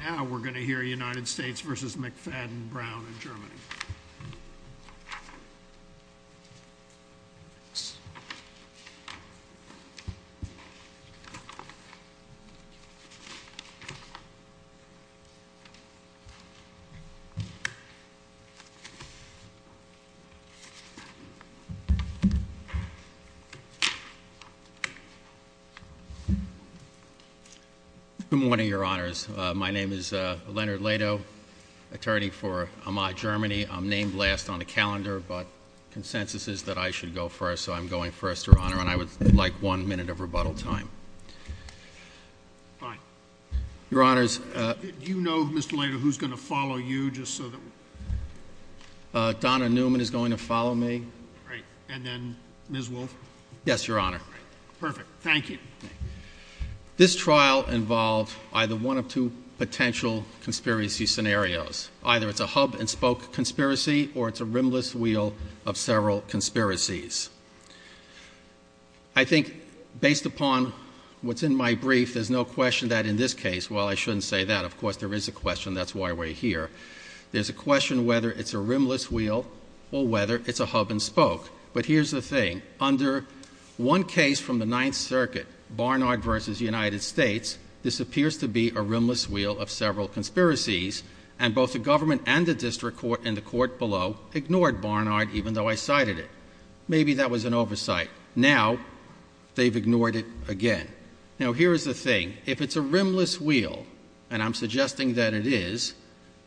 Now we're going to hear United States v. McFadden-Brown in Germany. Good morning, Your Honors. My name is Leonard Leto, attorney for Amai, Germany. I'm named last on the calendar, but consensus is that I should go first, so I'm going first, Your Honor, and I would like one minute of rebuttal time. Fine. Your Honors. Do you know, Mr. Leto, who's going to follow you, just so that we're— Donna Newman is going to follow me. Great. And then Ms. Wolf? Yes, Your Honor. All right. Perfect. Thank you. This trial involved either one of two potential conspiracy scenarios. Either it's a hub-and-spoke conspiracy or it's a rimless wheel of several conspiracies. I think, based upon what's in my brief, there's no question that in this case—well, I shouldn't say that. Of course, there is a question. That's why we're here. There's a question whether it's a rimless wheel or whether it's a hub-and-spoke. But here's the thing. Under one case from the Ninth Circuit, Barnard v. United States, this appears to be a rimless wheel of several conspiracies. And both the government and the district court in the court below ignored Barnard, even though I cited it. Maybe that was an oversight. Now, they've ignored it again. Now, here is the thing. If it's a rimless wheel, and I'm suggesting that it is,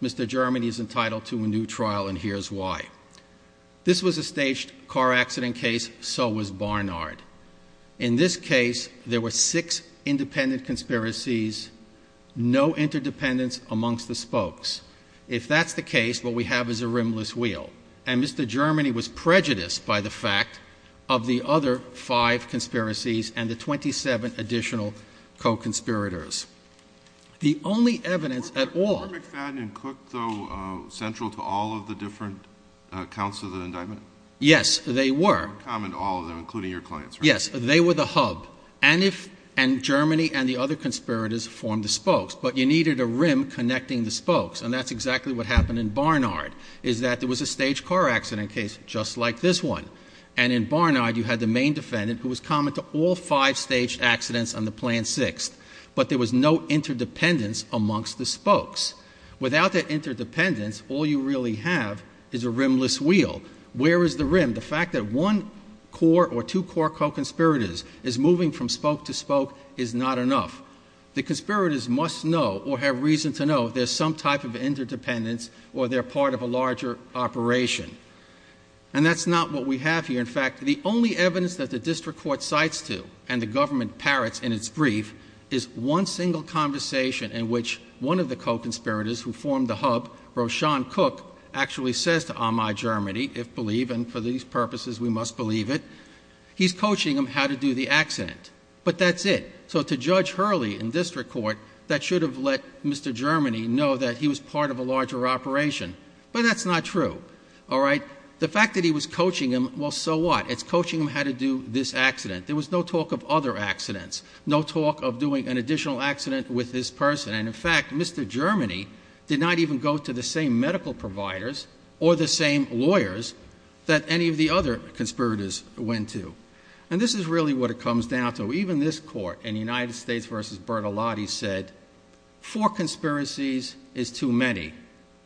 Mr. German is entitled to a new trial, and here's why. This was a staged car accident case. So was Barnard. In this case, there were six independent conspiracies, no interdependence amongst the spokes. If that's the case, what we have is a rimless wheel. And Mr. Germany was prejudiced by the fact of the other five conspiracies and the 27 additional co-conspirators. The only evidence at all— Were McFadden and Cook, though, central to all of the different counts of the indictment? Yes, they were. Common to all of them, including your clients, right? Yes, they were the hub. And Germany and the other conspirators formed the spokes. But you needed a rim connecting the spokes, and that's exactly what happened in Barnard, is that there was a staged car accident case just like this one. And in Barnard, you had the main defendant, who was common to all five staged accidents on the Plan VI. But there was no interdependence amongst the spokes. Without that interdependence, all you really have is a rimless wheel. Where is the rim? The fact that one core or two core co-conspirators is moving from spoke to spoke is not enough. The conspirators must know or have reason to know there's some type of interdependence or they're part of a larger operation. And that's not what we have here. In fact, the only evidence that the district court cites to, and the government parrots in its brief, is one single conversation in which one of the co-conspirators who formed the hub, Roshan Cook, actually says to Amai Germany, if believe, and for these purposes we must believe it, he's coaching him how to do the accident. But that's it. So to Judge Hurley in district court, that should have let Mr. Germany know that he was part of a larger operation. But that's not true. All right? The fact that he was coaching him, well, so what? It's coaching him how to do this accident. There was no talk of other accidents, no talk of doing an additional accident with this person. And in fact, Mr. Germany did not even go to the same medical providers or the same lawyers that any of the other conspirators went to. And this is really what it comes down to. Even this court in United States v. Bertolotti said, four conspiracies is too many.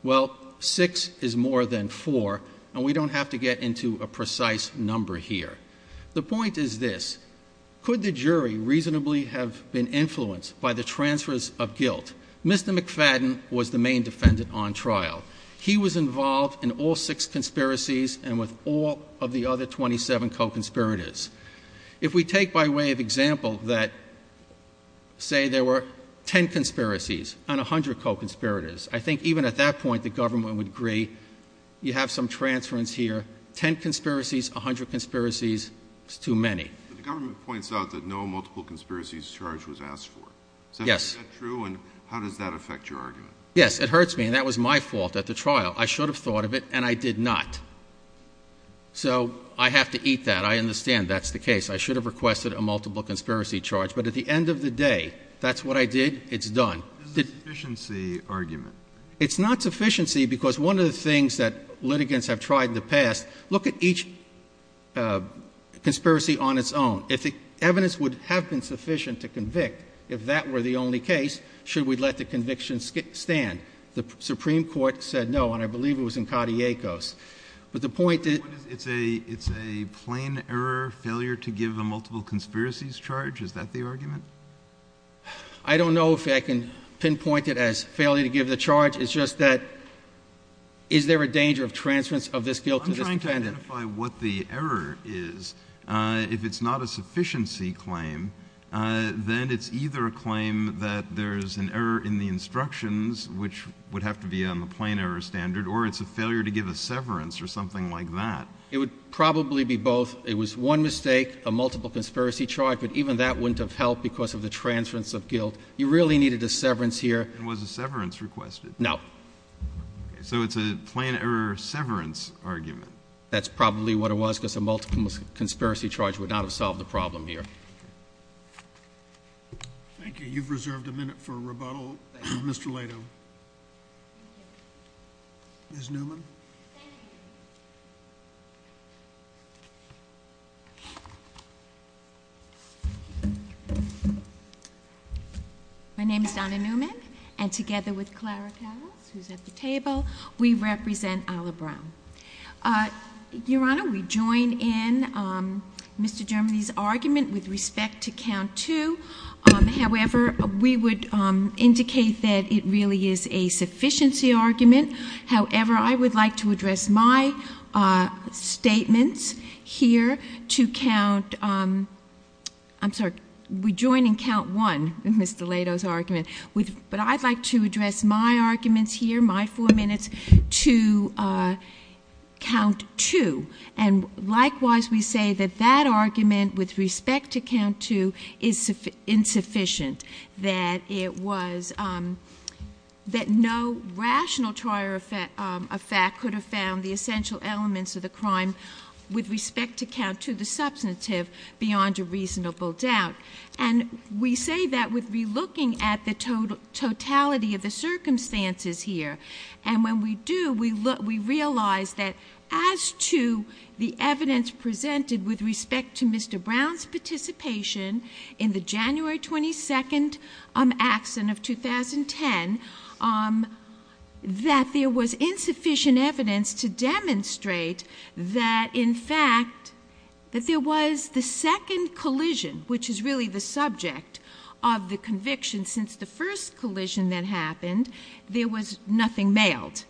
Well, six is more than four, and we don't have to get into a precise number here. The point is this. Could the jury reasonably have been influenced by the transfers of guilt? Mr. McFadden was the main defendant on trial. He was involved in all six conspiracies and with all of the other 27 co-conspirators. If we take by way of example that, say, there were ten conspiracies and a hundred co-conspirators, I think even at that point the government would agree you have some transference here. Ten conspiracies, a hundred conspiracies is too many. But the government points out that no multiple conspiracies charge was asked for. Yes. Is that true, and how does that affect your argument? Yes, it hurts me, and that was my fault at the trial. I should have thought of it, and I did not. So I have to eat that. I understand that's the case. I should have requested a multiple conspiracy charge. But at the end of the day, if that's what I did, it's done. This is a sufficiency argument. It's not sufficiency because one of the things that litigants have tried in the past, look at each conspiracy on its own. If the evidence would have been sufficient to convict, if that were the only case, should we let the conviction stand? The Supreme Court said no, and I believe it was in Katiekos. But the point is — It's a plain error, failure to give a multiple conspiracies charge? Is that the argument? I don't know if I can pinpoint it as failure to give the charge. It's just that is there a danger of transference of this guilt to this defendant? I'm trying to identify what the error is. If it's not a sufficiency claim, then it's either a claim that there's an error in the instructions, which would have to be on the plain error standard, or it's a failure to give a severance or something like that. It would probably be both. It was one mistake, a multiple conspiracy charge, but even that wouldn't have helped because of the transference of guilt. You really needed a severance here. And was a severance requested? No. So it's a plain error severance argument. That's probably what it was because a multiple conspiracy charge would not have solved the problem here. Thank you. You've reserved a minute for rebuttal. Thank you. Mr. Leto. Ms. Newman. Thank you. My name is Donna Newman, and together with Clara Powell, who's at the table, we represent Alla Brown. Your Honor, we join in Mr. Germany's argument with respect to count two. However, we would indicate that it really is a sufficiency argument. However, I would like to address my statements here to count ‑‑ I'm sorry. We join in count one in Mr. Leto's argument. But I'd like to address my arguments here, my four minutes, to count two. And likewise, we say that that argument with respect to count two is insufficient, that it was ‑‑ that no rational trier of fact could have found the essential elements of the crime with respect to count two, the substantive, beyond a reasonable doubt. And we say that with relooking at the totality of the circumstances here. And when we do, we realize that as to the evidence presented with respect to Mr. Brown's participation in the January 22nd accident of 2010, that there was insufficient evidence to demonstrate that, in fact, that there was the second collision, which is really the subject of the conviction since the first collision that happened, there was nothing mailed.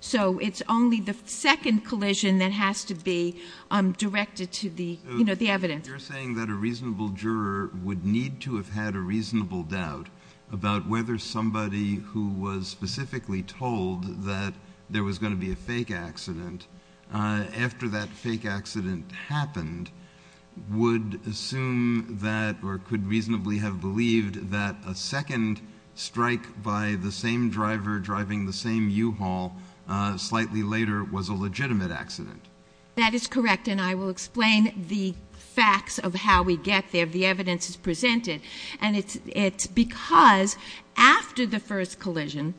So it's only the second collision that has to be directed to the evidence. You're saying that a reasonable juror would need to have had a reasonable doubt about whether somebody who was specifically told that there was going to be a fake accident after that fake accident happened would assume that or could reasonably have believed that a second strike by the same driver driving the same U-Haul slightly later was a legitimate accident. That is correct. And I will explain the facts of how we get there. The evidence is presented. And it's because after the first collision,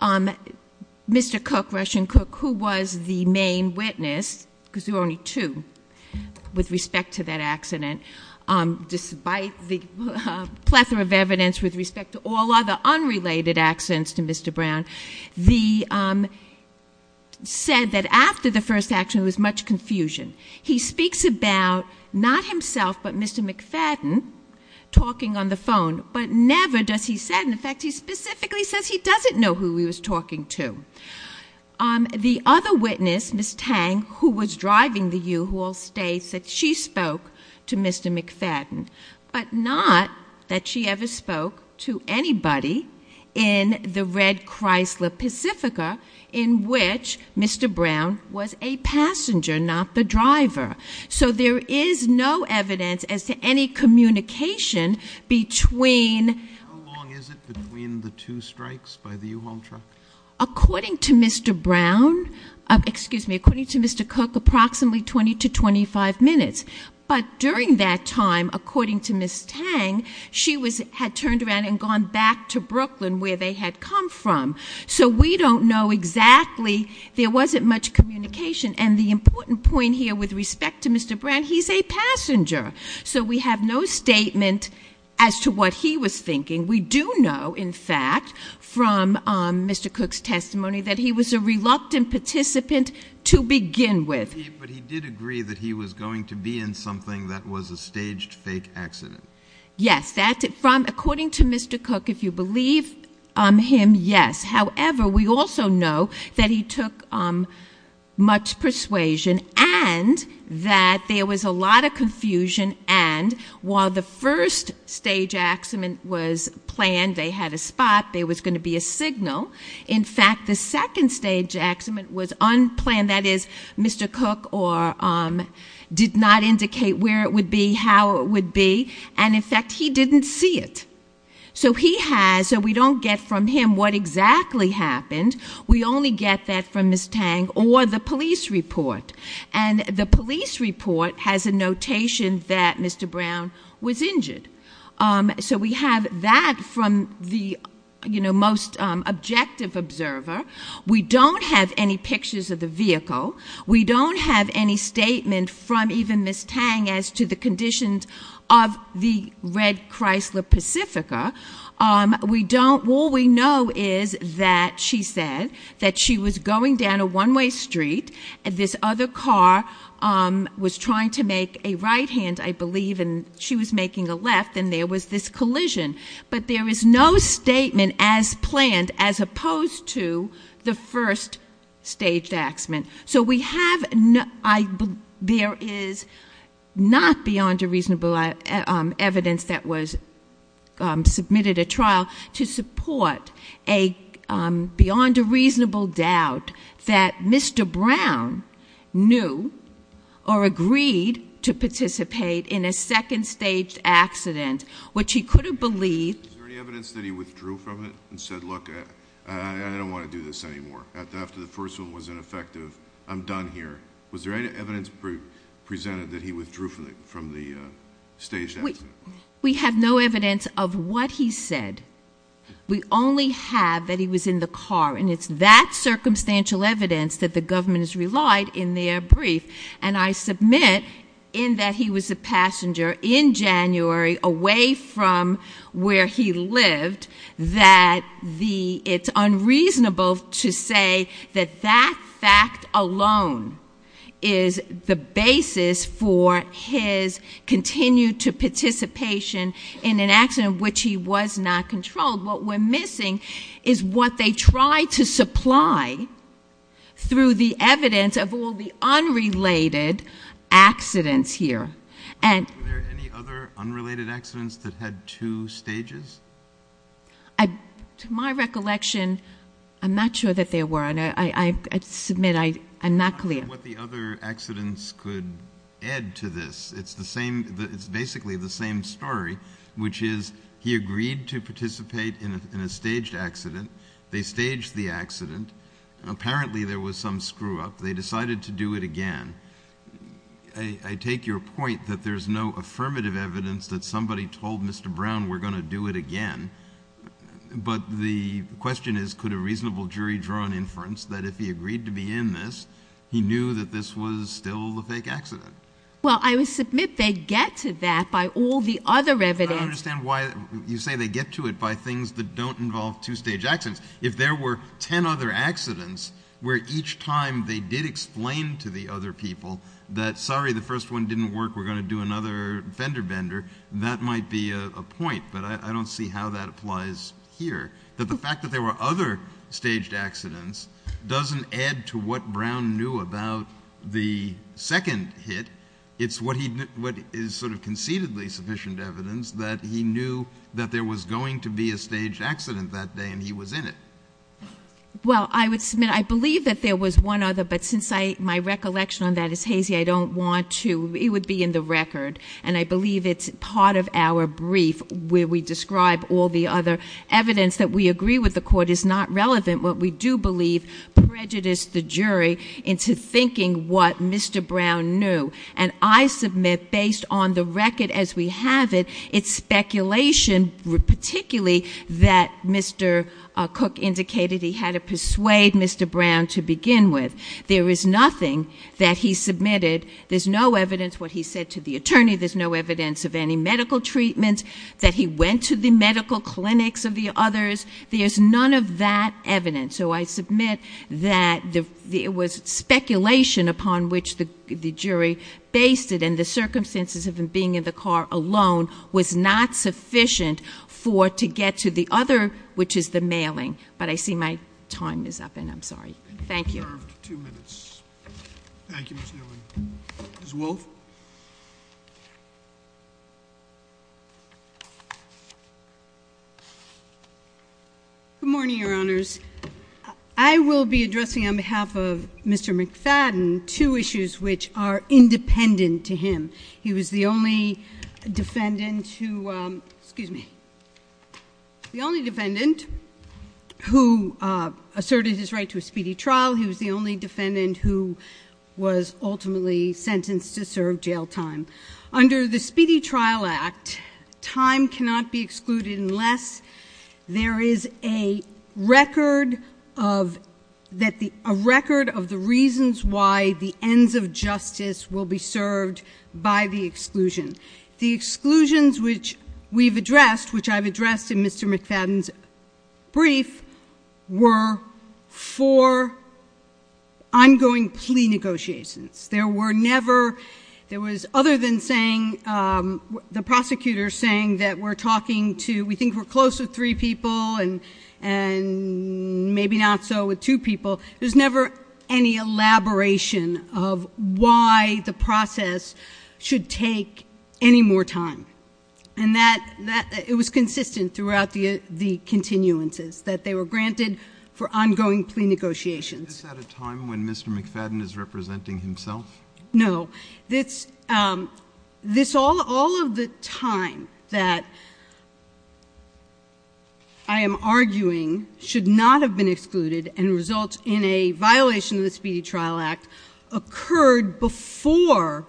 Mr. Cook, Russian Cook, who was the main witness, because there were only two with respect to that accident, despite the plethora of evidence with respect to all other unrelated accidents to Mr. Brown, said that after the first accident there was much confusion. He speaks about not himself but Mr. McFadden talking on the phone, but never does he say, in fact, he specifically says he doesn't know who he was talking to. The other witness, Ms. Tang, who was driving the U-Haul, states that she spoke to Mr. McFadden, but not that she ever spoke to anybody in the red Chrysler Pacifica in which Mr. Brown was a passenger, not the driver. So there is no evidence as to any communication between. How long is it between the two strikes by the U-Haul truck? According to Mr. Brown, excuse me, according to Mr. Cook, approximately 20 to 25 minutes. But during that time, according to Ms. Tang, she had turned around and gone back to Brooklyn where they had come from. So we don't know exactly. There wasn't much communication. And the important point here with respect to Mr. Brown, he's a passenger. So we have no statement as to what he was thinking. We do know, in fact, from Mr. Cook's testimony, that he was a reluctant participant to begin with. But he did agree that he was going to be in something that was a staged fake accident. Yes, that's it. According to Mr. Cook, if you believe him, yes. However, we also know that he took much persuasion and that there was a lot of confusion. And while the first stage accident was planned, they had a spot, there was going to be a signal. In fact, the second stage accident was unplanned. That is, Mr. Cook did not indicate where it would be, how it would be. And, in fact, he didn't see it. So we don't get from him what exactly happened. We only get that from Ms. Tang or the police report. And the police report has a notation that Mr. Brown was injured. So we have that from the most objective observer. We don't have any pictures of the vehicle. We don't have any statement from even Ms. Tang as to the conditions of the red Chrysler Pacifica. All we know is that she said that she was going down a one-way street. This other car was trying to make a right hand, I believe, and she was making a left. And there was this collision. But there is no statement as planned as opposed to the first stage accident. So we have, there is not beyond a reasonable evidence that was submitted at trial to support a beyond a reasonable doubt that Mr. Brown knew or agreed to participate in a second stage accident, which he could have believed. Is there any evidence that he withdrew from it and said, look, I don't want to do this anymore? After the first one was ineffective, I'm done here. Was there any evidence presented that he withdrew from the stage accident? We have no evidence of what he said. We only have that he was in the car. And it's that circumstantial evidence that the government has relied in their brief. And I submit in that he was a passenger in January away from where he lived that it's unreasonable to say that that fact alone is the basis for his continued participation in an accident which he was not controlled. What we're missing is what they tried to supply through the evidence of all the unrelated accidents here. Were there any other unrelated accidents that had two stages? To my recollection, I'm not sure that there were. I submit I'm not clear. I'm not sure what the other accidents could add to this. It's basically the same story, which is he agreed to participate in a staged accident. They staged the accident. Apparently there was some screw-up. They decided to do it again. I take your point that there's no affirmative evidence that somebody told Mr. Brown we're going to do it again. But the question is could a reasonable jury draw an inference that if he agreed to be in this, he knew that this was still the fake accident? Well, I would submit they get to that by all the other evidence. I don't understand why you say they get to it by things that don't involve two-stage accidents. If there were ten other accidents where each time they did explain to the other people that, sorry, the first one didn't work, we're going to do another fender-bender, that might be a point. But I don't see how that applies here. The fact that there were other staged accidents doesn't add to what Brown knew about the second hit. It's what is sort of concededly sufficient evidence that he knew that there was going to be a staged accident that day and he was in it. Well, I would submit I believe that there was one other, but since my recollection on that is hazy, I don't want to. It would be in the record. And I believe it's part of our brief where we describe all the other evidence that we agree with the court is not relevant, what we do believe prejudiced the jury into thinking what Mr. Brown knew. And I submit based on the record as we have it, it's speculation, particularly that Mr. Cook indicated he had to persuade Mr. Brown to begin with. There is nothing that he submitted. There's no evidence what he said to the attorney. There's no evidence of any medical treatment, that he went to the medical clinics of the others. There's none of that evidence. So I submit that it was speculation upon which the jury based it and the circumstances of him being in the car alone was not sufficient for to get to the other, which is the mailing. But I see my time is up and I'm sorry. Thank you. Two minutes. Thank you, Ms. Newman. Ms. Wolfe. Good morning, your honors. I will be addressing on behalf of Mr. McFadden two issues which are independent to him. He was the only defendant who, excuse me, the only defendant who asserted his right to a speedy trial. He was the only defendant who was ultimately sentenced to serve jail time. Under the Speedy Trial Act, time cannot be excluded unless there is a record of the reasons why the ends of justice will be served by the exclusion. The exclusions which we've addressed, which I've addressed in Mr. McFadden's brief, were for ongoing plea negotiations. There were never, there was other than saying, the prosecutor saying that we're talking to, we think we're close with three people and maybe not so with two people. There's never any elaboration of why the process should take any more time. And that, it was consistent throughout the continuances, that they were granted for ongoing plea negotiations. Is this at a time when Mr. McFadden is representing himself? No. This, all of the time that I am arguing should not have been excluded and result in a violation of the Speedy Trial Act occurred before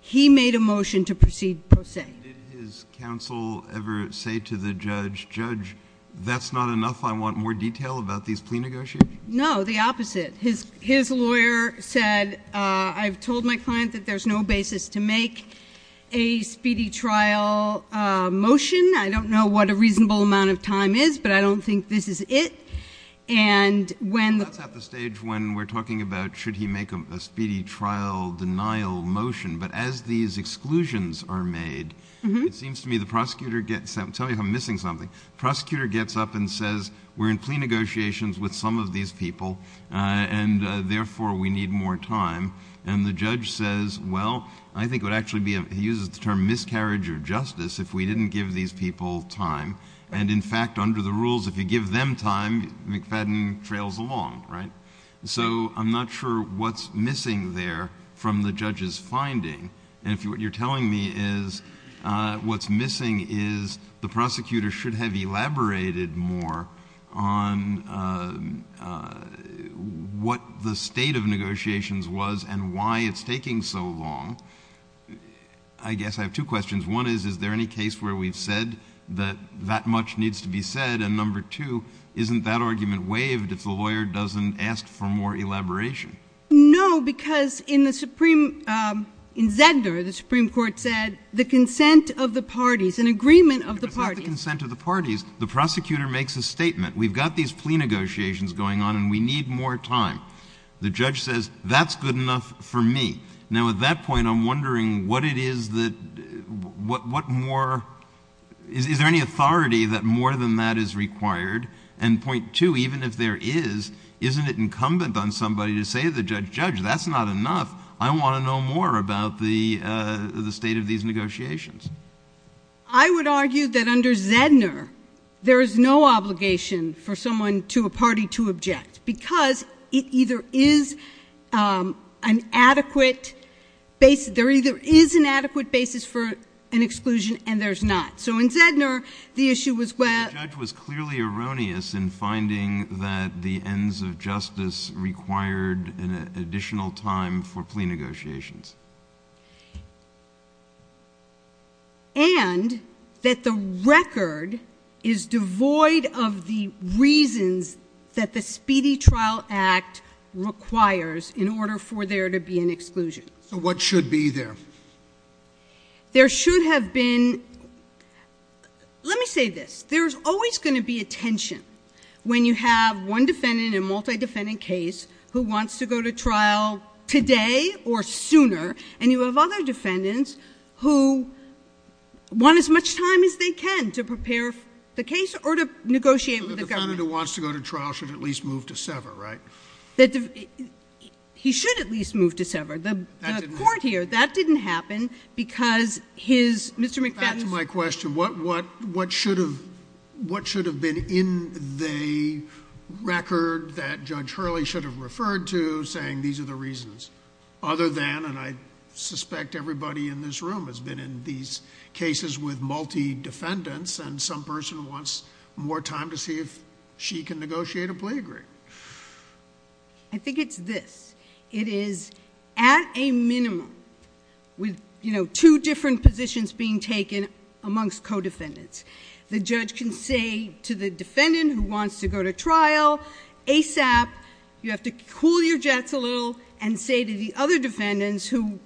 he made a motion to proceed pro se. Did his counsel ever say to the judge, judge, that's not enough, I want more detail about these plea negotiations? No, the opposite. His lawyer said, I've told my client that there's no basis to make a speedy trial motion. I don't know what a reasonable amount of time is, but I don't think this is it. And when- That's at the stage when we're talking about should he make a speedy trial denial motion, but as these exclusions are made, it seems to me the prosecutor gets, tell me if I'm missing something, prosecutor gets up and says, we're in plea negotiations with some of these people, and therefore we need more time. And the judge says, well, I think it would actually be, he uses the term miscarriage of justice if we didn't give these people time. And in fact, under the rules, if you give them time, McFadden trails along, right? So I'm not sure what's missing there from the judge's finding. And what you're telling me is what's missing is the prosecutor should have elaborated more on what the state of negotiations was and why it's taking so long. I guess I have two questions. One is, is there any case where we've said that that much needs to be said? And number two, isn't that argument waived if the lawyer doesn't ask for more elaboration? No, because in Zegner, the Supreme Court said the consent of the parties, an agreement of the parties. The consent of the parties. The prosecutor makes a statement. We've got these plea negotiations going on, and we need more time. The judge says, that's good enough for me. Now, at that point, I'm wondering what it is that, what more, is there any authority that more than that is required? And point two, even if there is, isn't it incumbent on somebody to say to the judge, judge, that's not enough. I want to know more about the state of these negotiations. I would argue that under Zegner, there is no obligation for someone to a party to object, because it either is an adequate basis, there either is an adequate basis for an exclusion, and there's not. So in Zegner, the issue was where. The judge was clearly erroneous in finding that the ends of justice required an additional time for plea negotiations. And that the record is devoid of the reasons that the Speedy Trial Act requires in order for there to be an exclusion. So what should be there? There should have been, let me say this. There's always going to be a tension when you have one defendant in a multi-defendant case who wants to go to trial today or sooner, and you have other defendants who want as much time as they can to prepare the case or to negotiate with the government. So the defendant who wants to go to trial should at least move to sever, right? He should at least move to sever. The court here, that didn't happen because his, Mr. McFadden's- Back to my question. What should have been in the record that Judge Hurley should have referred to saying these are the reasons? Other than, and I suspect everybody in this room has been in these cases with multi-defendants, and some person wants more time to see if she can negotiate a plea agreement. I think it's this. It is at a minimum with two different positions being taken amongst co-defendants. The judge can say to the defendant who wants to go to trial ASAP, you have to cool your jets a little and say to the other defendants who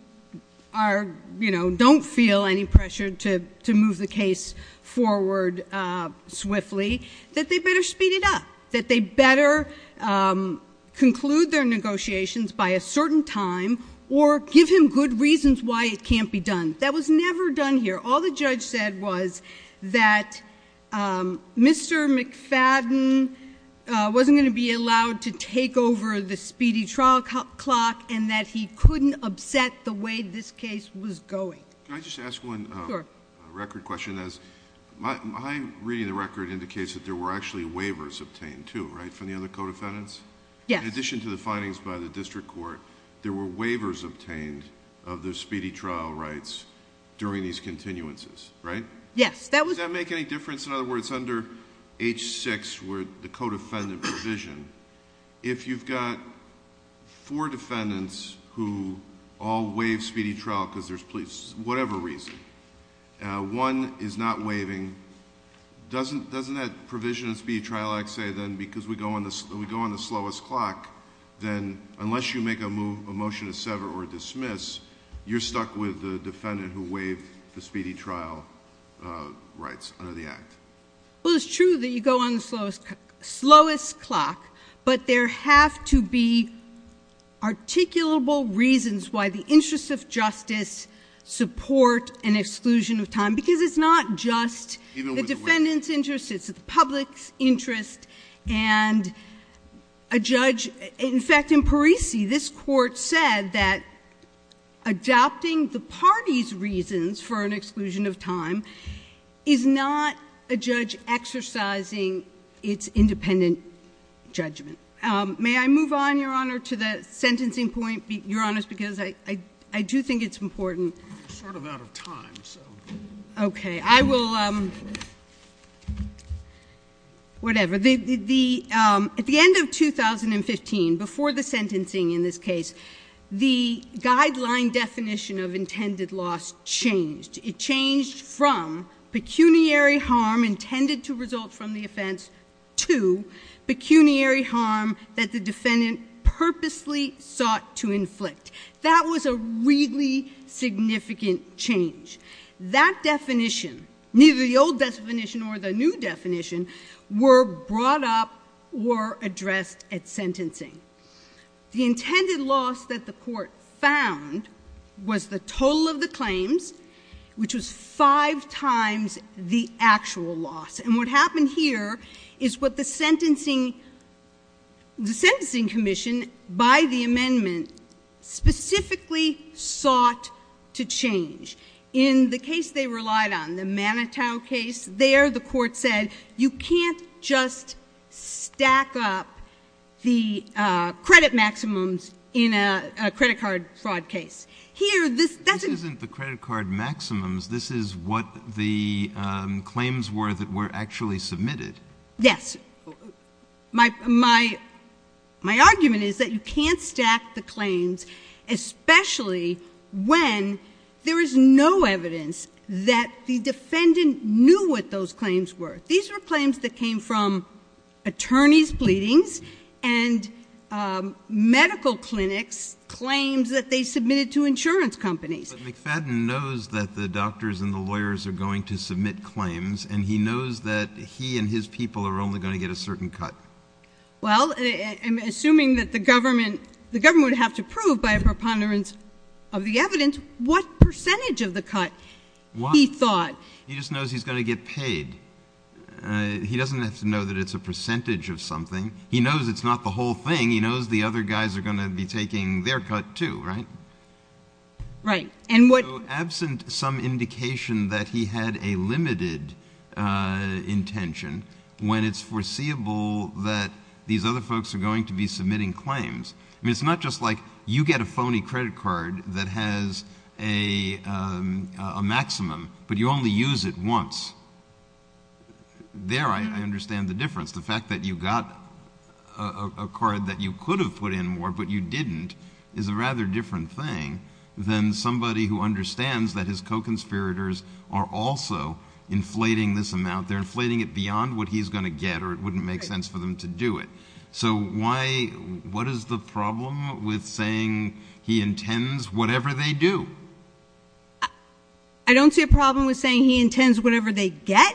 don't feel any pressure to move the case forward swiftly, that they better speed it up, that they better conclude their negotiations by a certain time, or give him good reasons why it can't be done. That was never done here. All the judge said was that Mr. McFadden wasn't going to be allowed to take over the speedy trial clock, and that he couldn't upset the way this case was going. Can I just ask one record question? Sure. My reading of the record indicates that there were actually waivers obtained too, right, from the other co-defendants? Yes. In addition to the findings by the district court, there were waivers obtained of the speedy trial rights during these continuances, right? Yes. Does that make any difference? In other words, under H-6 where the co-defendant provision, if you've got four defendants who all waive speedy trial because there's police, whatever reason, one is not waiving, doesn't that provision in speedy trial act say then because we go on the slowest clock, then unless you make a motion to sever or dismiss, you're stuck with the defendant who waived the speedy trial rights under the act? Well, it's true that you go on the slowest clock, but there have to be articulable reasons why the interests of justice support an exclusion of time because it's not just the defendant's interest. It's the public's interest and a judge. In fact, in Parisi, this court said that adopting the party's reasons for an exclusion of time is not a judge exercising its independent judgment. May I move on, Your Honor, to the sentencing point, Your Honors, because I do think it's important. I'm sort of out of time, so. Okay. I will, whatever. At the end of 2015, before the sentencing in this case, the guideline definition of intended loss changed. It changed from pecuniary harm intended to result from the offense to pecuniary harm that the defendant purposely sought to inflict. That was a really significant change. That definition, neither the old definition or the new definition, were brought up or addressed at sentencing. The intended loss that the court found was the total of the claims, which was five times the actual loss. And what happened here is what the sentencing commission, by the amendment, specifically sought to change. In the case they relied on, the Manitow case, there the court said, you can't just stack up the credit maximums in a credit card fraud case. Here, this doesn't— This isn't the credit card maximums. This is what the claims were that were actually submitted. Yes. My argument is that you can't stack the claims, especially when there is no evidence that the defendant knew what those claims were. These were claims that came from attorney's pleadings and medical clinics, claims that they submitted to insurance companies. But McFadden knows that the doctors and the lawyers are going to submit claims, and he knows that he and his people are only going to get a certain cut. Well, assuming that the government would have to prove by a preponderance of the evidence what percentage of the cut he thought. He just knows he's going to get paid. He doesn't have to know that it's a percentage of something. He knows it's not the whole thing. He knows the other guys are going to be taking their cut, too, right? Right. And what— —intention when it's foreseeable that these other folks are going to be submitting claims. I mean, it's not just like you get a phony credit card that has a maximum, but you only use it once. There I understand the difference. The fact that you got a card that you could have put in more, but you didn't, is a rather different thing than somebody who understands that his co-conspirators are also inflating this amount. They're inflating it beyond what he's going to get, or it wouldn't make sense for them to do it. So why—what is the problem with saying he intends whatever they do? I don't see a problem with saying he intends whatever they get,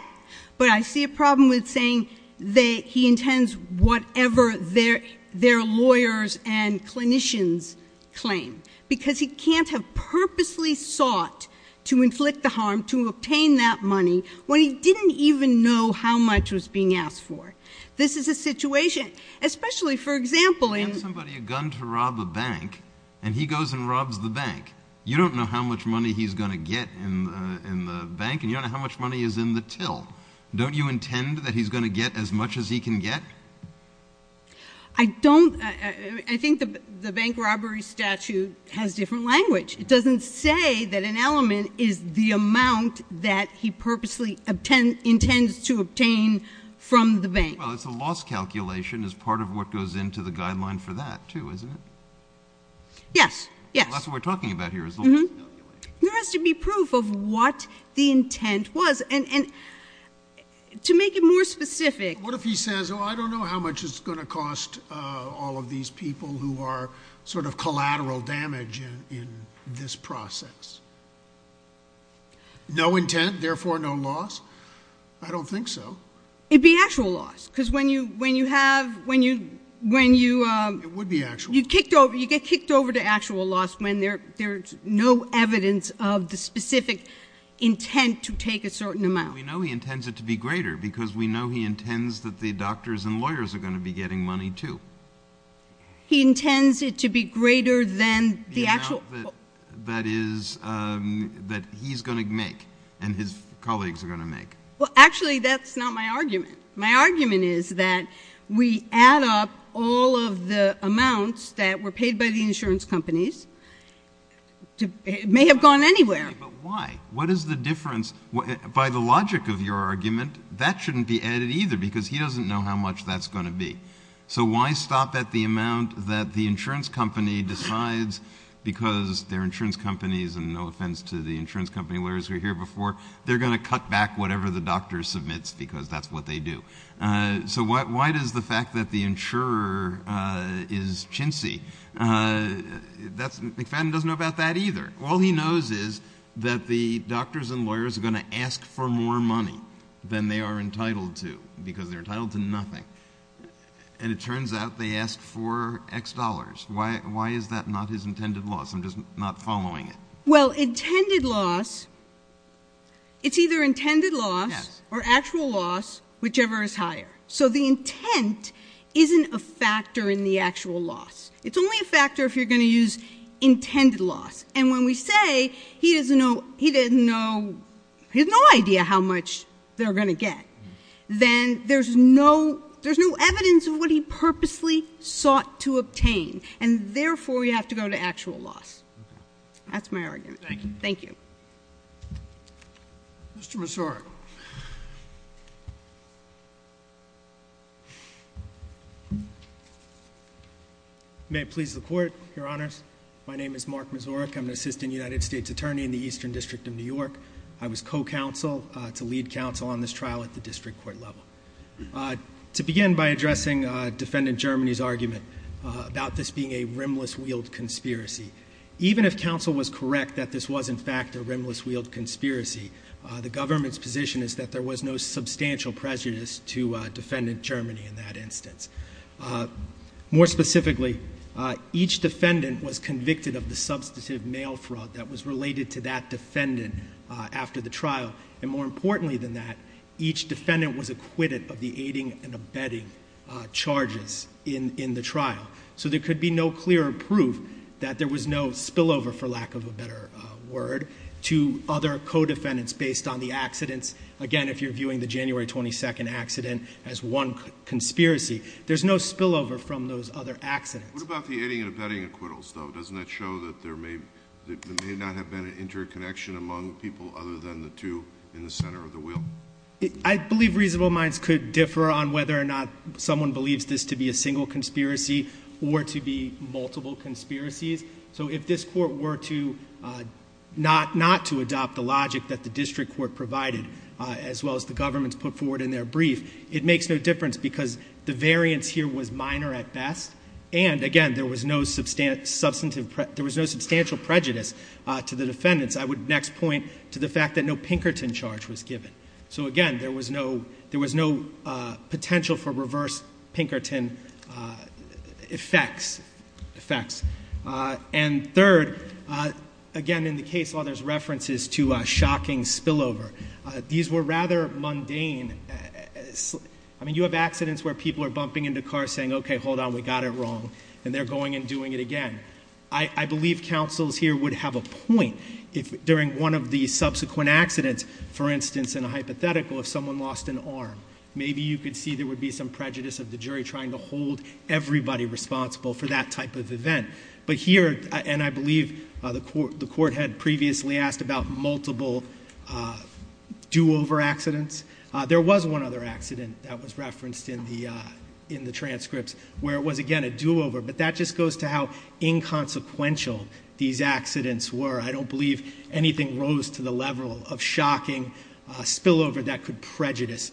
but I see a problem with saying that he intends whatever their lawyers and clinicians claim, because he can't have purposely sought to inflict the harm, to obtain that money, when he didn't even know how much was being asked for. This is a situation—especially, for example, in— You give somebody a gun to rob a bank, and he goes and robs the bank. You don't know how much money he's going to get in the bank, and you don't know how much money is in the till. Don't you intend that he's going to get as much as he can get? I don't—I think the bank robbery statute has different language. It doesn't say that an element is the amount that he purposely intends to obtain from the bank. Well, it's a loss calculation as part of what goes into the guideline for that, too, isn't it? Yes, yes. That's what we're talking about here is the loss. There has to be proof of what the intent was. And to make it more specific— What if he says, oh, I don't know how much it's going to cost all of these people who are sort of collateral damage in this process? No intent, therefore no loss? I don't think so. It'd be actual loss, because when you have— It would be actual loss. You get kicked over to actual loss when there's no evidence of the specific intent to take a certain amount. We know he intends it to be greater, because we know he intends that the doctors and lawyers are going to be getting money, too. He intends it to be greater than the actual— The amount that he's going to make and his colleagues are going to make. My argument is that we add up all of the amounts that were paid by the insurance companies. It may have gone anywhere. But why? What is the difference? By the logic of your argument, that shouldn't be added either, because he doesn't know how much that's going to be. So why stop at the amount that the insurance company decides, because their insurance companies, and no offense to the insurance company lawyers who were here before, they're going to cut back whatever the doctor submits, because that's what they do. So why does the fact that the insurer is chintzy? McFadden doesn't know about that either. All he knows is that the doctors and lawyers are going to ask for more money than they are entitled to, because they're entitled to nothing. And it turns out they asked for X dollars. Why is that not his intended loss? I'm just not following it. Well, intended loss, it's either intended loss or actual loss, whichever is higher. So the intent isn't a factor in the actual loss. It's only a factor if you're going to use intended loss. And when we say he doesn't know, he has no idea how much they're going to get, then there's no evidence of what he purposely sought to obtain, and therefore you have to go to actual loss. That's my argument. Thank you. Thank you. Mr. Misorek. May it please the Court, Your Honors. My name is Mark Misorek. I'm an assistant United States attorney in the Eastern District of New York. I was co-counsel to lead counsel on this trial at the district court level. To begin by addressing Defendant Germany's argument about this being a rimless wheeled conspiracy, even if counsel was correct that this was in fact a rimless wheeled conspiracy, the government's position is that there was no substantial prejudice to Defendant Germany in that instance. More specifically, each defendant was convicted of the substantive mail fraud that was related to that defendant after the trial. And more importantly than that, each defendant was acquitted of the aiding and abetting charges in the trial. So there could be no clearer proof that there was no spillover, for lack of a better word, to other co-defendants based on the accidents. Again, if you're viewing the January 22nd accident as one conspiracy, there's no spillover from those other accidents. What about the aiding and abetting acquittals, though? Doesn't that show that there may not have been an interconnection among people other than the two in the center of the wheel? I believe reasonable minds could differ on whether or not someone believes this to be a single conspiracy or to be multiple conspiracies. So if this court were not to adopt the logic that the district court provided, as well as the government's put forward in their brief, it makes no difference because the variance here was minor at best. And again, there was no substantial prejudice to the defendants. I would next point to the fact that no Pinkerton charge was given. So again, there was no potential for reverse Pinkerton effects. And third, again, in the case law, there's references to a shocking spillover. These were rather mundane. I mean, you have accidents where people are bumping into cars saying, okay, hold on, we got it wrong. And they're going and doing it again. I believe counsels here would have a point if during one of the subsequent accidents, for instance, in a hypothetical, if someone lost an arm. Maybe you could see there would be some prejudice of the jury trying to hold everybody responsible for that type of event. But here, and I believe the court had previously asked about multiple do-over accidents. There was one other accident that was referenced in the transcripts where it was, again, a do-over. But that just goes to how inconsequential these accidents were. I don't believe anything rose to the level of shocking spillover that could prejudice,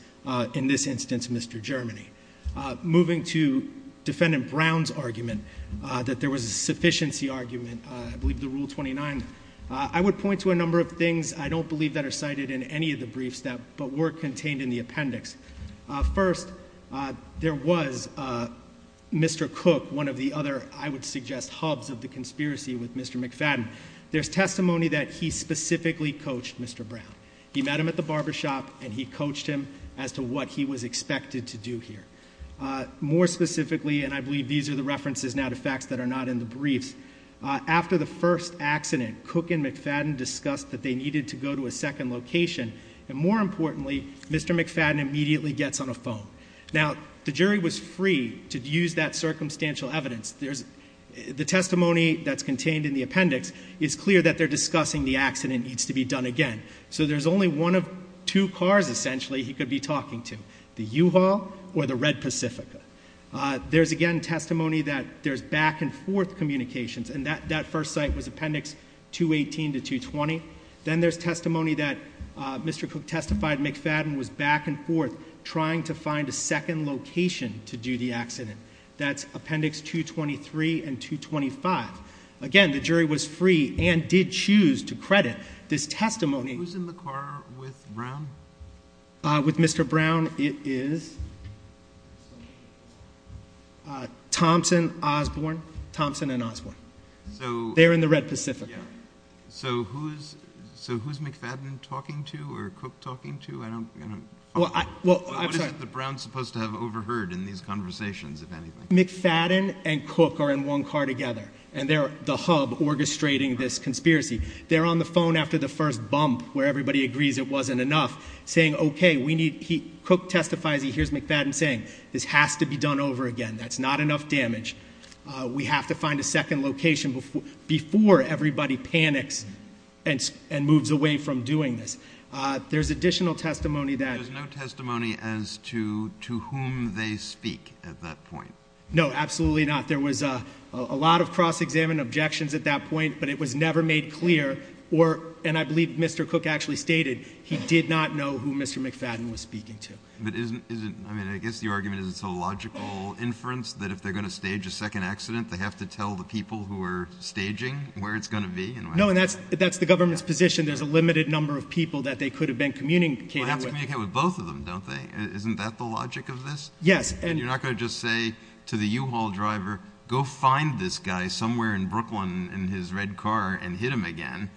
in this instance, Mr. Germany. Moving to defendant Brown's argument, that there was a sufficiency argument, I believe the rule 29. I would point to a number of things I don't believe that are cited in any of the briefs that were contained in the appendix. First, there was Mr. Cook, one of the other, I would suggest, hubs of the conspiracy with Mr. McFadden. There's testimony that he specifically coached Mr. Brown. He met him at the barbershop, and he coached him as to what he was expected to do here. More specifically, and I believe these are the references now to facts that are not in the briefs. After the first accident, Cook and McFadden discussed that they needed to go to a second location. And more importantly, Mr. McFadden immediately gets on a phone. Now, the jury was free to use that circumstantial evidence. The testimony that's contained in the appendix is clear that they're discussing the accident needs to be done again. So there's only one of two cars essentially he could be talking to, the U-Haul or the Red Pacifica. There's again testimony that there's back and forth communications, and that first site was appendix 218 to 220. Then there's testimony that Mr. Cook testified McFadden was back and forth trying to find a second location to do the accident. That's appendix 223 and 225. Again, the jury was free and did choose to credit this testimony. Who's in the car with Brown? With Mr. Brown, it is Thompson, Osborne. Thompson and Osborne. They're in the Red Pacifica. So who's McFadden talking to or Cook talking to? I don't, I'm sorry. What is it that Brown's supposed to have overheard in these conversations, if anything? McFadden and Cook are in one car together, and they're the hub orchestrating this conspiracy. They're on the phone after the first bump where everybody agrees it wasn't enough, saying okay, we need, Cook testifies, he hears McFadden saying, this has to be done over again. That's not enough damage. We have to find a second location before everybody panics and moves away from doing this. There's additional testimony that- No, absolutely not. There was a lot of cross-examined objections at that point, but it was never made clear. Or, and I believe Mr. Cook actually stated, he did not know who Mr. McFadden was speaking to. But isn't, I mean, I guess your argument is it's a logical inference that if they're going to stage a second accident, they have to tell the people who are staging where it's going to be and- No, and that's the government's position. There's a limited number of people that they could have been communicating with. Well, they have to communicate with both of them, don't they? Isn't that the logic of this? Yes, and- To say to the U-Haul driver, go find this guy somewhere in Brooklyn in his red car and hit him again.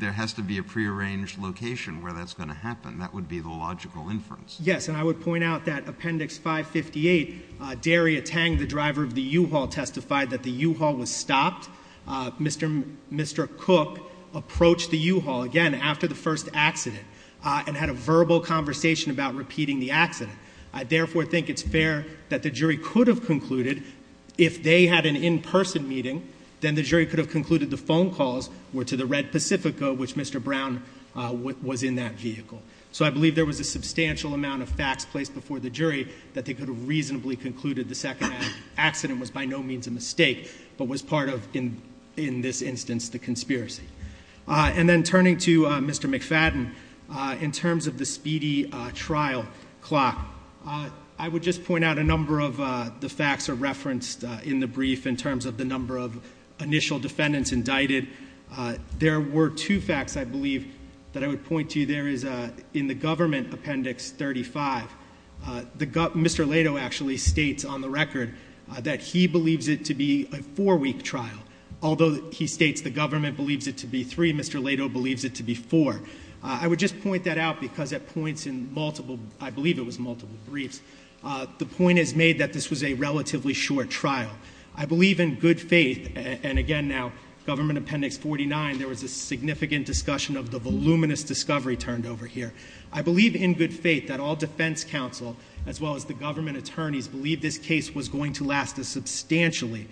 There has to be a pre-arranged location where that's going to happen. That would be the logical inference. Yes, and I would point out that Appendix 558, Daria Tang, the driver of the U-Haul, testified that the U-Haul was stopped. Mr. Cook approached the U-Haul again after the first accident and had a verbal conversation about repeating the accident. I therefore think it's fair that the jury could have concluded, if they had an in-person meeting, then the jury could have concluded the phone calls were to the Red Pacifica, which Mr. Brown was in that vehicle. So I believe there was a substantial amount of facts placed before the jury that they could have reasonably concluded the second accident was by no means a mistake, but was part of, in this instance, the conspiracy. And then turning to Mr. McFadden, in terms of the speedy trial clock, I would just point out a number of the facts are referenced in the brief in terms of the number of initial defendants indicted. There were two facts, I believe, that I would point to. There is, in the government appendix 35, Mr. Lato actually states on the record that he believes it to be a four week trial. Although he states the government believes it to be three, Mr. Lato believes it to be four. I would just point that out because at points in multiple, I believe it was multiple briefs, the point is made that this was a relatively short trial. I believe in good faith, and again now, Government Appendix 49, there was a significant discussion of the voluminous discovery turned over here. I believe in good faith that all defense counsel, as well as the government attorneys, believe this case was going to last a substantially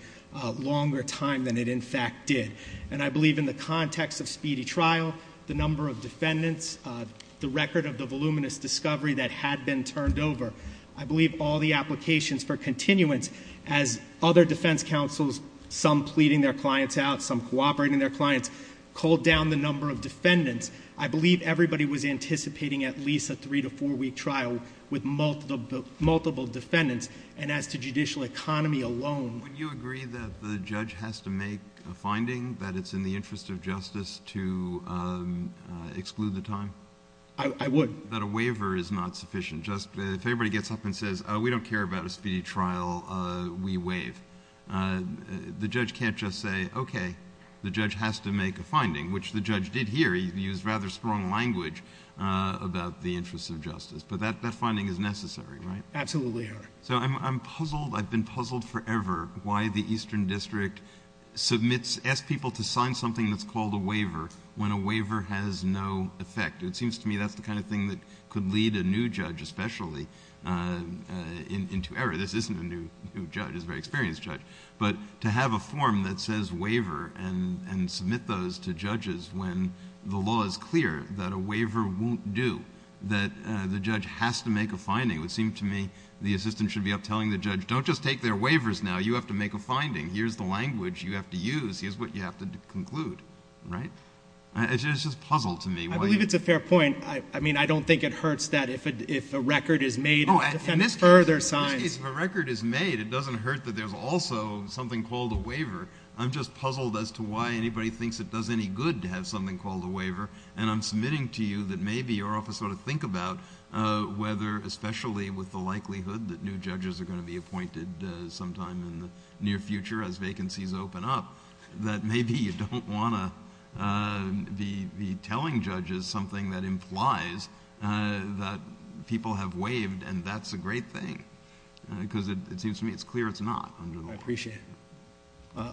longer time than it in fact did. And I believe in the context of speedy trial, the number of defendants, the record of the voluminous discovery that had been turned over. I believe all the applications for continuance as other defense counsels, some pleading their clients out, some cooperating their clients, called down the number of defendants. I believe everybody was anticipating at least a three to four week trial with multiple defendants. And as to judicial economy alone. Would you agree that the judge has to make a finding that it's in the interest of justice to exclude the time? I would. That a waiver is not sufficient. Just, if everybody gets up and says, we don't care about a speedy trial, we waive. The judge can't just say, okay, the judge has to make a finding, which the judge did here. He used rather strong language about the interest of justice. But that finding is necessary, right? Absolutely, Your Honor. So I'm puzzled. I've been puzzled forever why the Eastern District submits, asks people to sign something that's called a waiver when a waiver has no effect. It seems to me that's the kind of thing that could lead a new judge especially into error. This isn't a new judge, he's a very experienced judge. But to have a form that says waiver and submit those to judges when the law is clear that a waiver won't do. That the judge has to make a finding. It would seem to me the assistant should be up telling the judge, don't just take their waivers now, you have to make a finding. Here's the language you have to use. Here's what you have to conclude, right? It's just a puzzle to me. I believe it's a fair point. I mean, I don't think it hurts that if a record is made to defend further signs. In this case, if a record is made, it doesn't hurt that there's also something called a waiver. I'm just puzzled as to why anybody thinks it does any good to have something called a waiver. And I'm submitting to you that maybe you're off to sort of think about whether, especially with the likelihood that new judges are going to be appointed sometime in the near future as vacancies open up. That maybe you don't want to be telling judges something that implies that people have waived and that's a great thing. Because it seems to me it's clear it's not under the law. I appreciate it.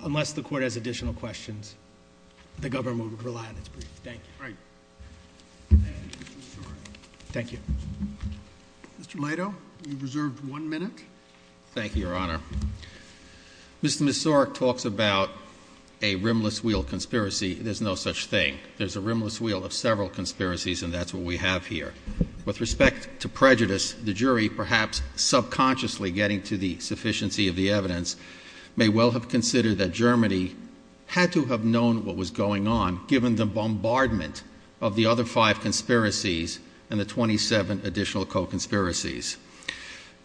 Unless the court has additional questions, the government would rely on its brief. Thank you. All right. Thank you. Mr. Laito, you've reserved one minute. Thank you, your honor. Mr. Messorek talks about a rimless wheel conspiracy. There's no such thing. There's a rimless wheel of several conspiracies and that's what we have here. With respect to prejudice, the jury perhaps subconsciously getting to the sufficiency of the evidence may well have considered that Germany had to have known what was going on given the bombardment of the other five conspiracies and the 27 additional co-conspiracies.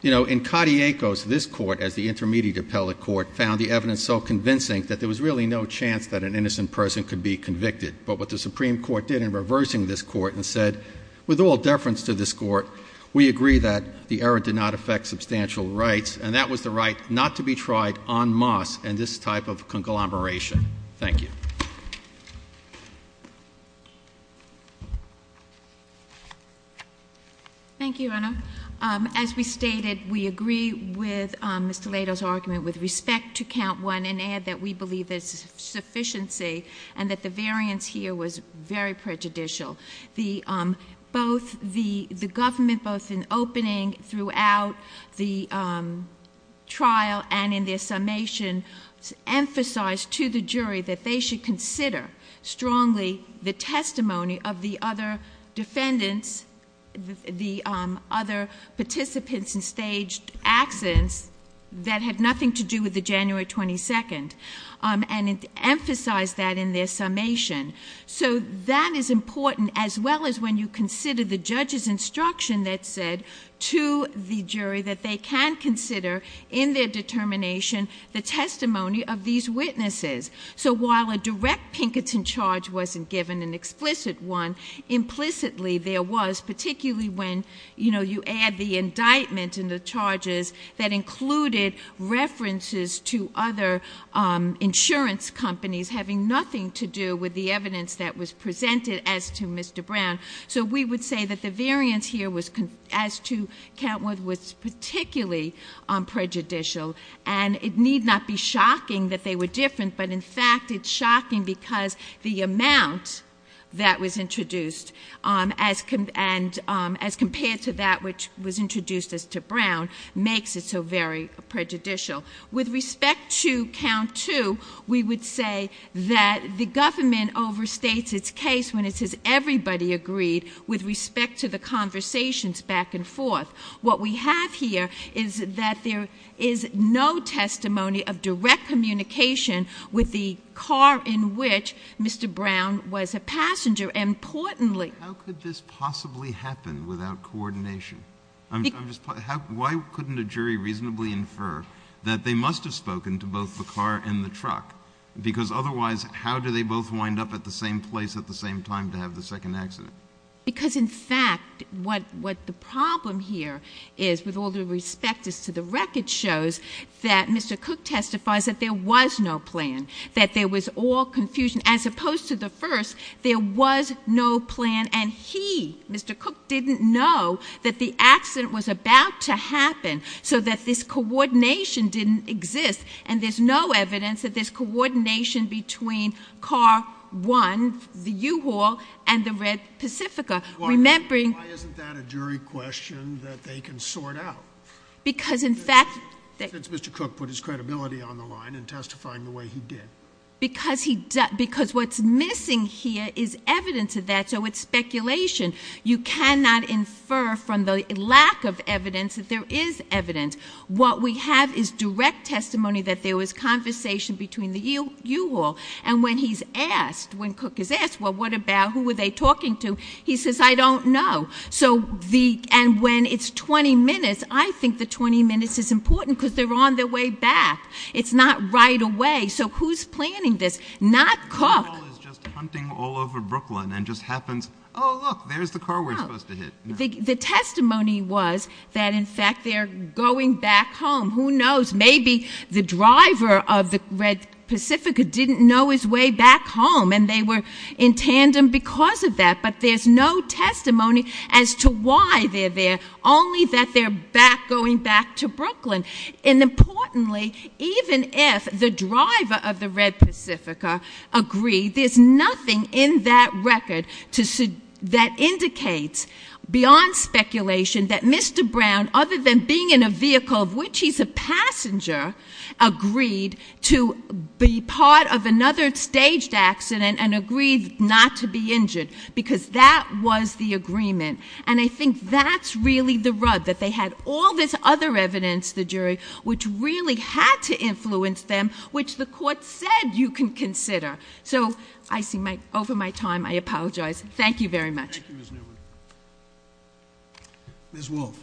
In Katiekos, this court as the intermediate appellate court found the evidence so convincing that there was really no chance that an innocent person could be convicted. But what the Supreme Court did in reversing this court and said, with all deference to this court, we agree that the error did not affect substantial rights, and that was the right not to be tried en masse in this type of conglomeration. Thank you. Thank you, your honor. As we stated, we agree with Mr. Laito's argument with respect to count one and add that we believe there's sufficiency and that the variance here was very prejudicial. The government, both in opening throughout the trial and in their summation, emphasized to the jury that they should consider strongly the testimony of the other defendants, the other defendants, and it emphasized that in their summation. So that is important as well as when you consider the judge's instruction that said to the jury that they can consider in their determination the testimony of these witnesses. So while a direct Pinkerton charge wasn't given, an explicit one, implicitly there was, particularly when you add the indictment and the charges that included references to other insurance companies having nothing to do with the evidence that was presented as to Mr. Brown. So we would say that the variance here as to count one was particularly prejudicial. And it need not be shocking that they were different, but in fact it's shocking because the amount that was introduced as compared to that which was introduced as to Brown, makes it so very prejudicial. With respect to count two, we would say that the government overstates its case when it says everybody agreed with respect to the conversations back and forth. What we have here is that there is no testimony of direct communication with the car in which Mr. Brown was a passenger, and importantly- What could possibly happen without coordination? I'm just, why couldn't a jury reasonably infer that they must have spoken to both the car and the truck? Because otherwise, how do they both wind up at the same place at the same time to have the second accident? Because in fact, what the problem here is, with all due respect is to the record shows that Mr. Cook testifies that there was no plan, that there was all confusion. And as opposed to the first, there was no plan, and he, Mr. Cook, didn't know that the accident was about to happen, so that this coordination didn't exist. And there's no evidence that there's coordination between car one, the U-Haul, and the Red Pacifica. Remembering- Why isn't that a jury question that they can sort out? Because in fact- Since Mr. Cook put his credibility on the line in testifying the way he did. Because what's missing here is evidence of that, so it's speculation. You cannot infer from the lack of evidence that there is evidence. What we have is direct testimony that there was conversation between the U-Haul. And when he's asked, when Cook is asked, well, what about, who were they talking to? He says, I don't know. So, and when it's 20 minutes, I think the 20 minutes is important because they're on their way back. It's not right away. So, who's planning this? Not Cook. The U-Haul is just hunting all over Brooklyn and just happens, look, there's the car we're supposed to hit. The testimony was that in fact they're going back home. Who knows, maybe the driver of the Red Pacifica didn't know his way back home. And they were in tandem because of that. But there's no testimony as to why they're there, only that they're going back to Brooklyn. And importantly, even if the driver of the Red Pacifica agreed, there's nothing in that record that indicates beyond speculation that Mr. Brown, other than being in a vehicle of which he's a passenger, agreed to be part of another staged accident and agreed not to be injured because that was the agreement. And I think that's really the rub, that they had all this other evidence, the jury, which really had to influence them, which the court said you can consider. So, I see over my time, I apologize. Thank you very much. Thank you, Ms. Newman. Ms. Wolfe.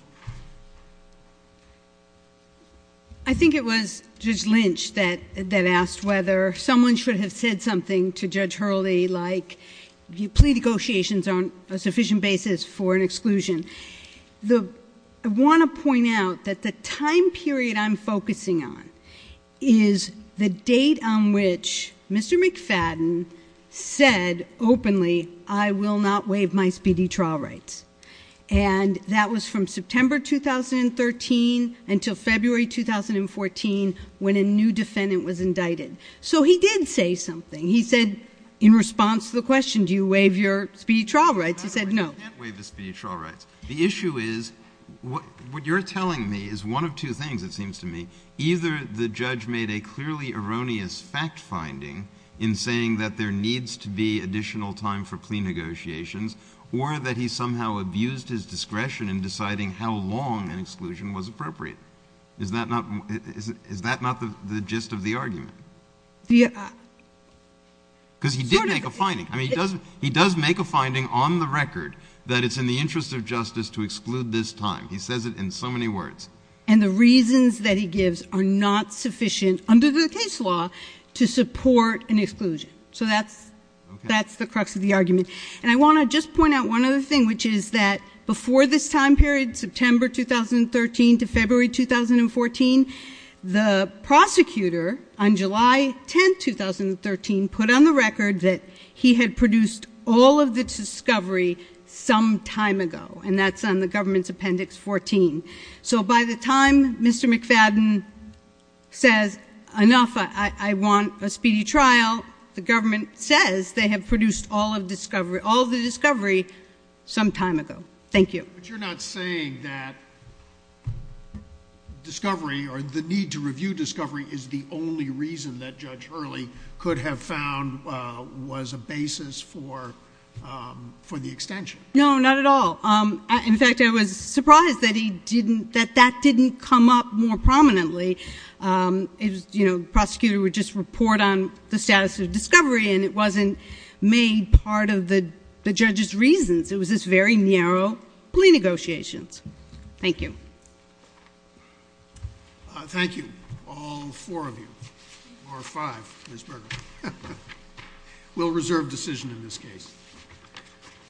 I think it was Judge Lynch that asked whether someone should have said something to Judge Hurley, like plea negotiations aren't a sufficient basis for an exclusion. I want to point out that the time period I'm focusing on is the date on which Mr. McFadden said openly, I will not waive my speedy trial rights. And that was from September 2013 until February 2014 when a new defendant was indicted. So he did say something. He said, in response to the question, do you waive your speedy trial rights? He said no. You can't waive the speedy trial rights. The issue is, what you're telling me is one of two things, it seems to me. Either the judge made a clearly erroneous fact finding in saying that there needs to be additional time for plea negotiations, or that he somehow abused his discretion in deciding how long an exclusion was appropriate. Is that not the gist of the argument? Because he did make a finding. I mean, he does make a finding on the record that it's in the interest of justice to exclude this time. He says it in so many words. And the reasons that he gives are not sufficient under the case law to support an exclusion. So that's the crux of the argument. And I want to just point out one other thing, which is that before this time period, September 2013 to February 2014, the prosecutor on July 10, 2013 put on the record that he had produced all of the discovery some time ago, and that's on the government's appendix 14. So by the time Mr. McFadden says enough, I want a speedy trial, the government says they have produced all of the discovery some time ago. Thank you. But you're not saying that discovery, or the need to review discovery is the only reason that Judge Hurley could have found was a basis for the extension. No, not at all. In fact, I was surprised that that didn't come up more prominently. Prosecutor would just report on the status of discovery, and it wasn't made part of the judge's reasons. It was this very narrow plea negotiations. Thank you. Thank you, all four of you, or five, Ms. Berger. We'll reserve decision in this case.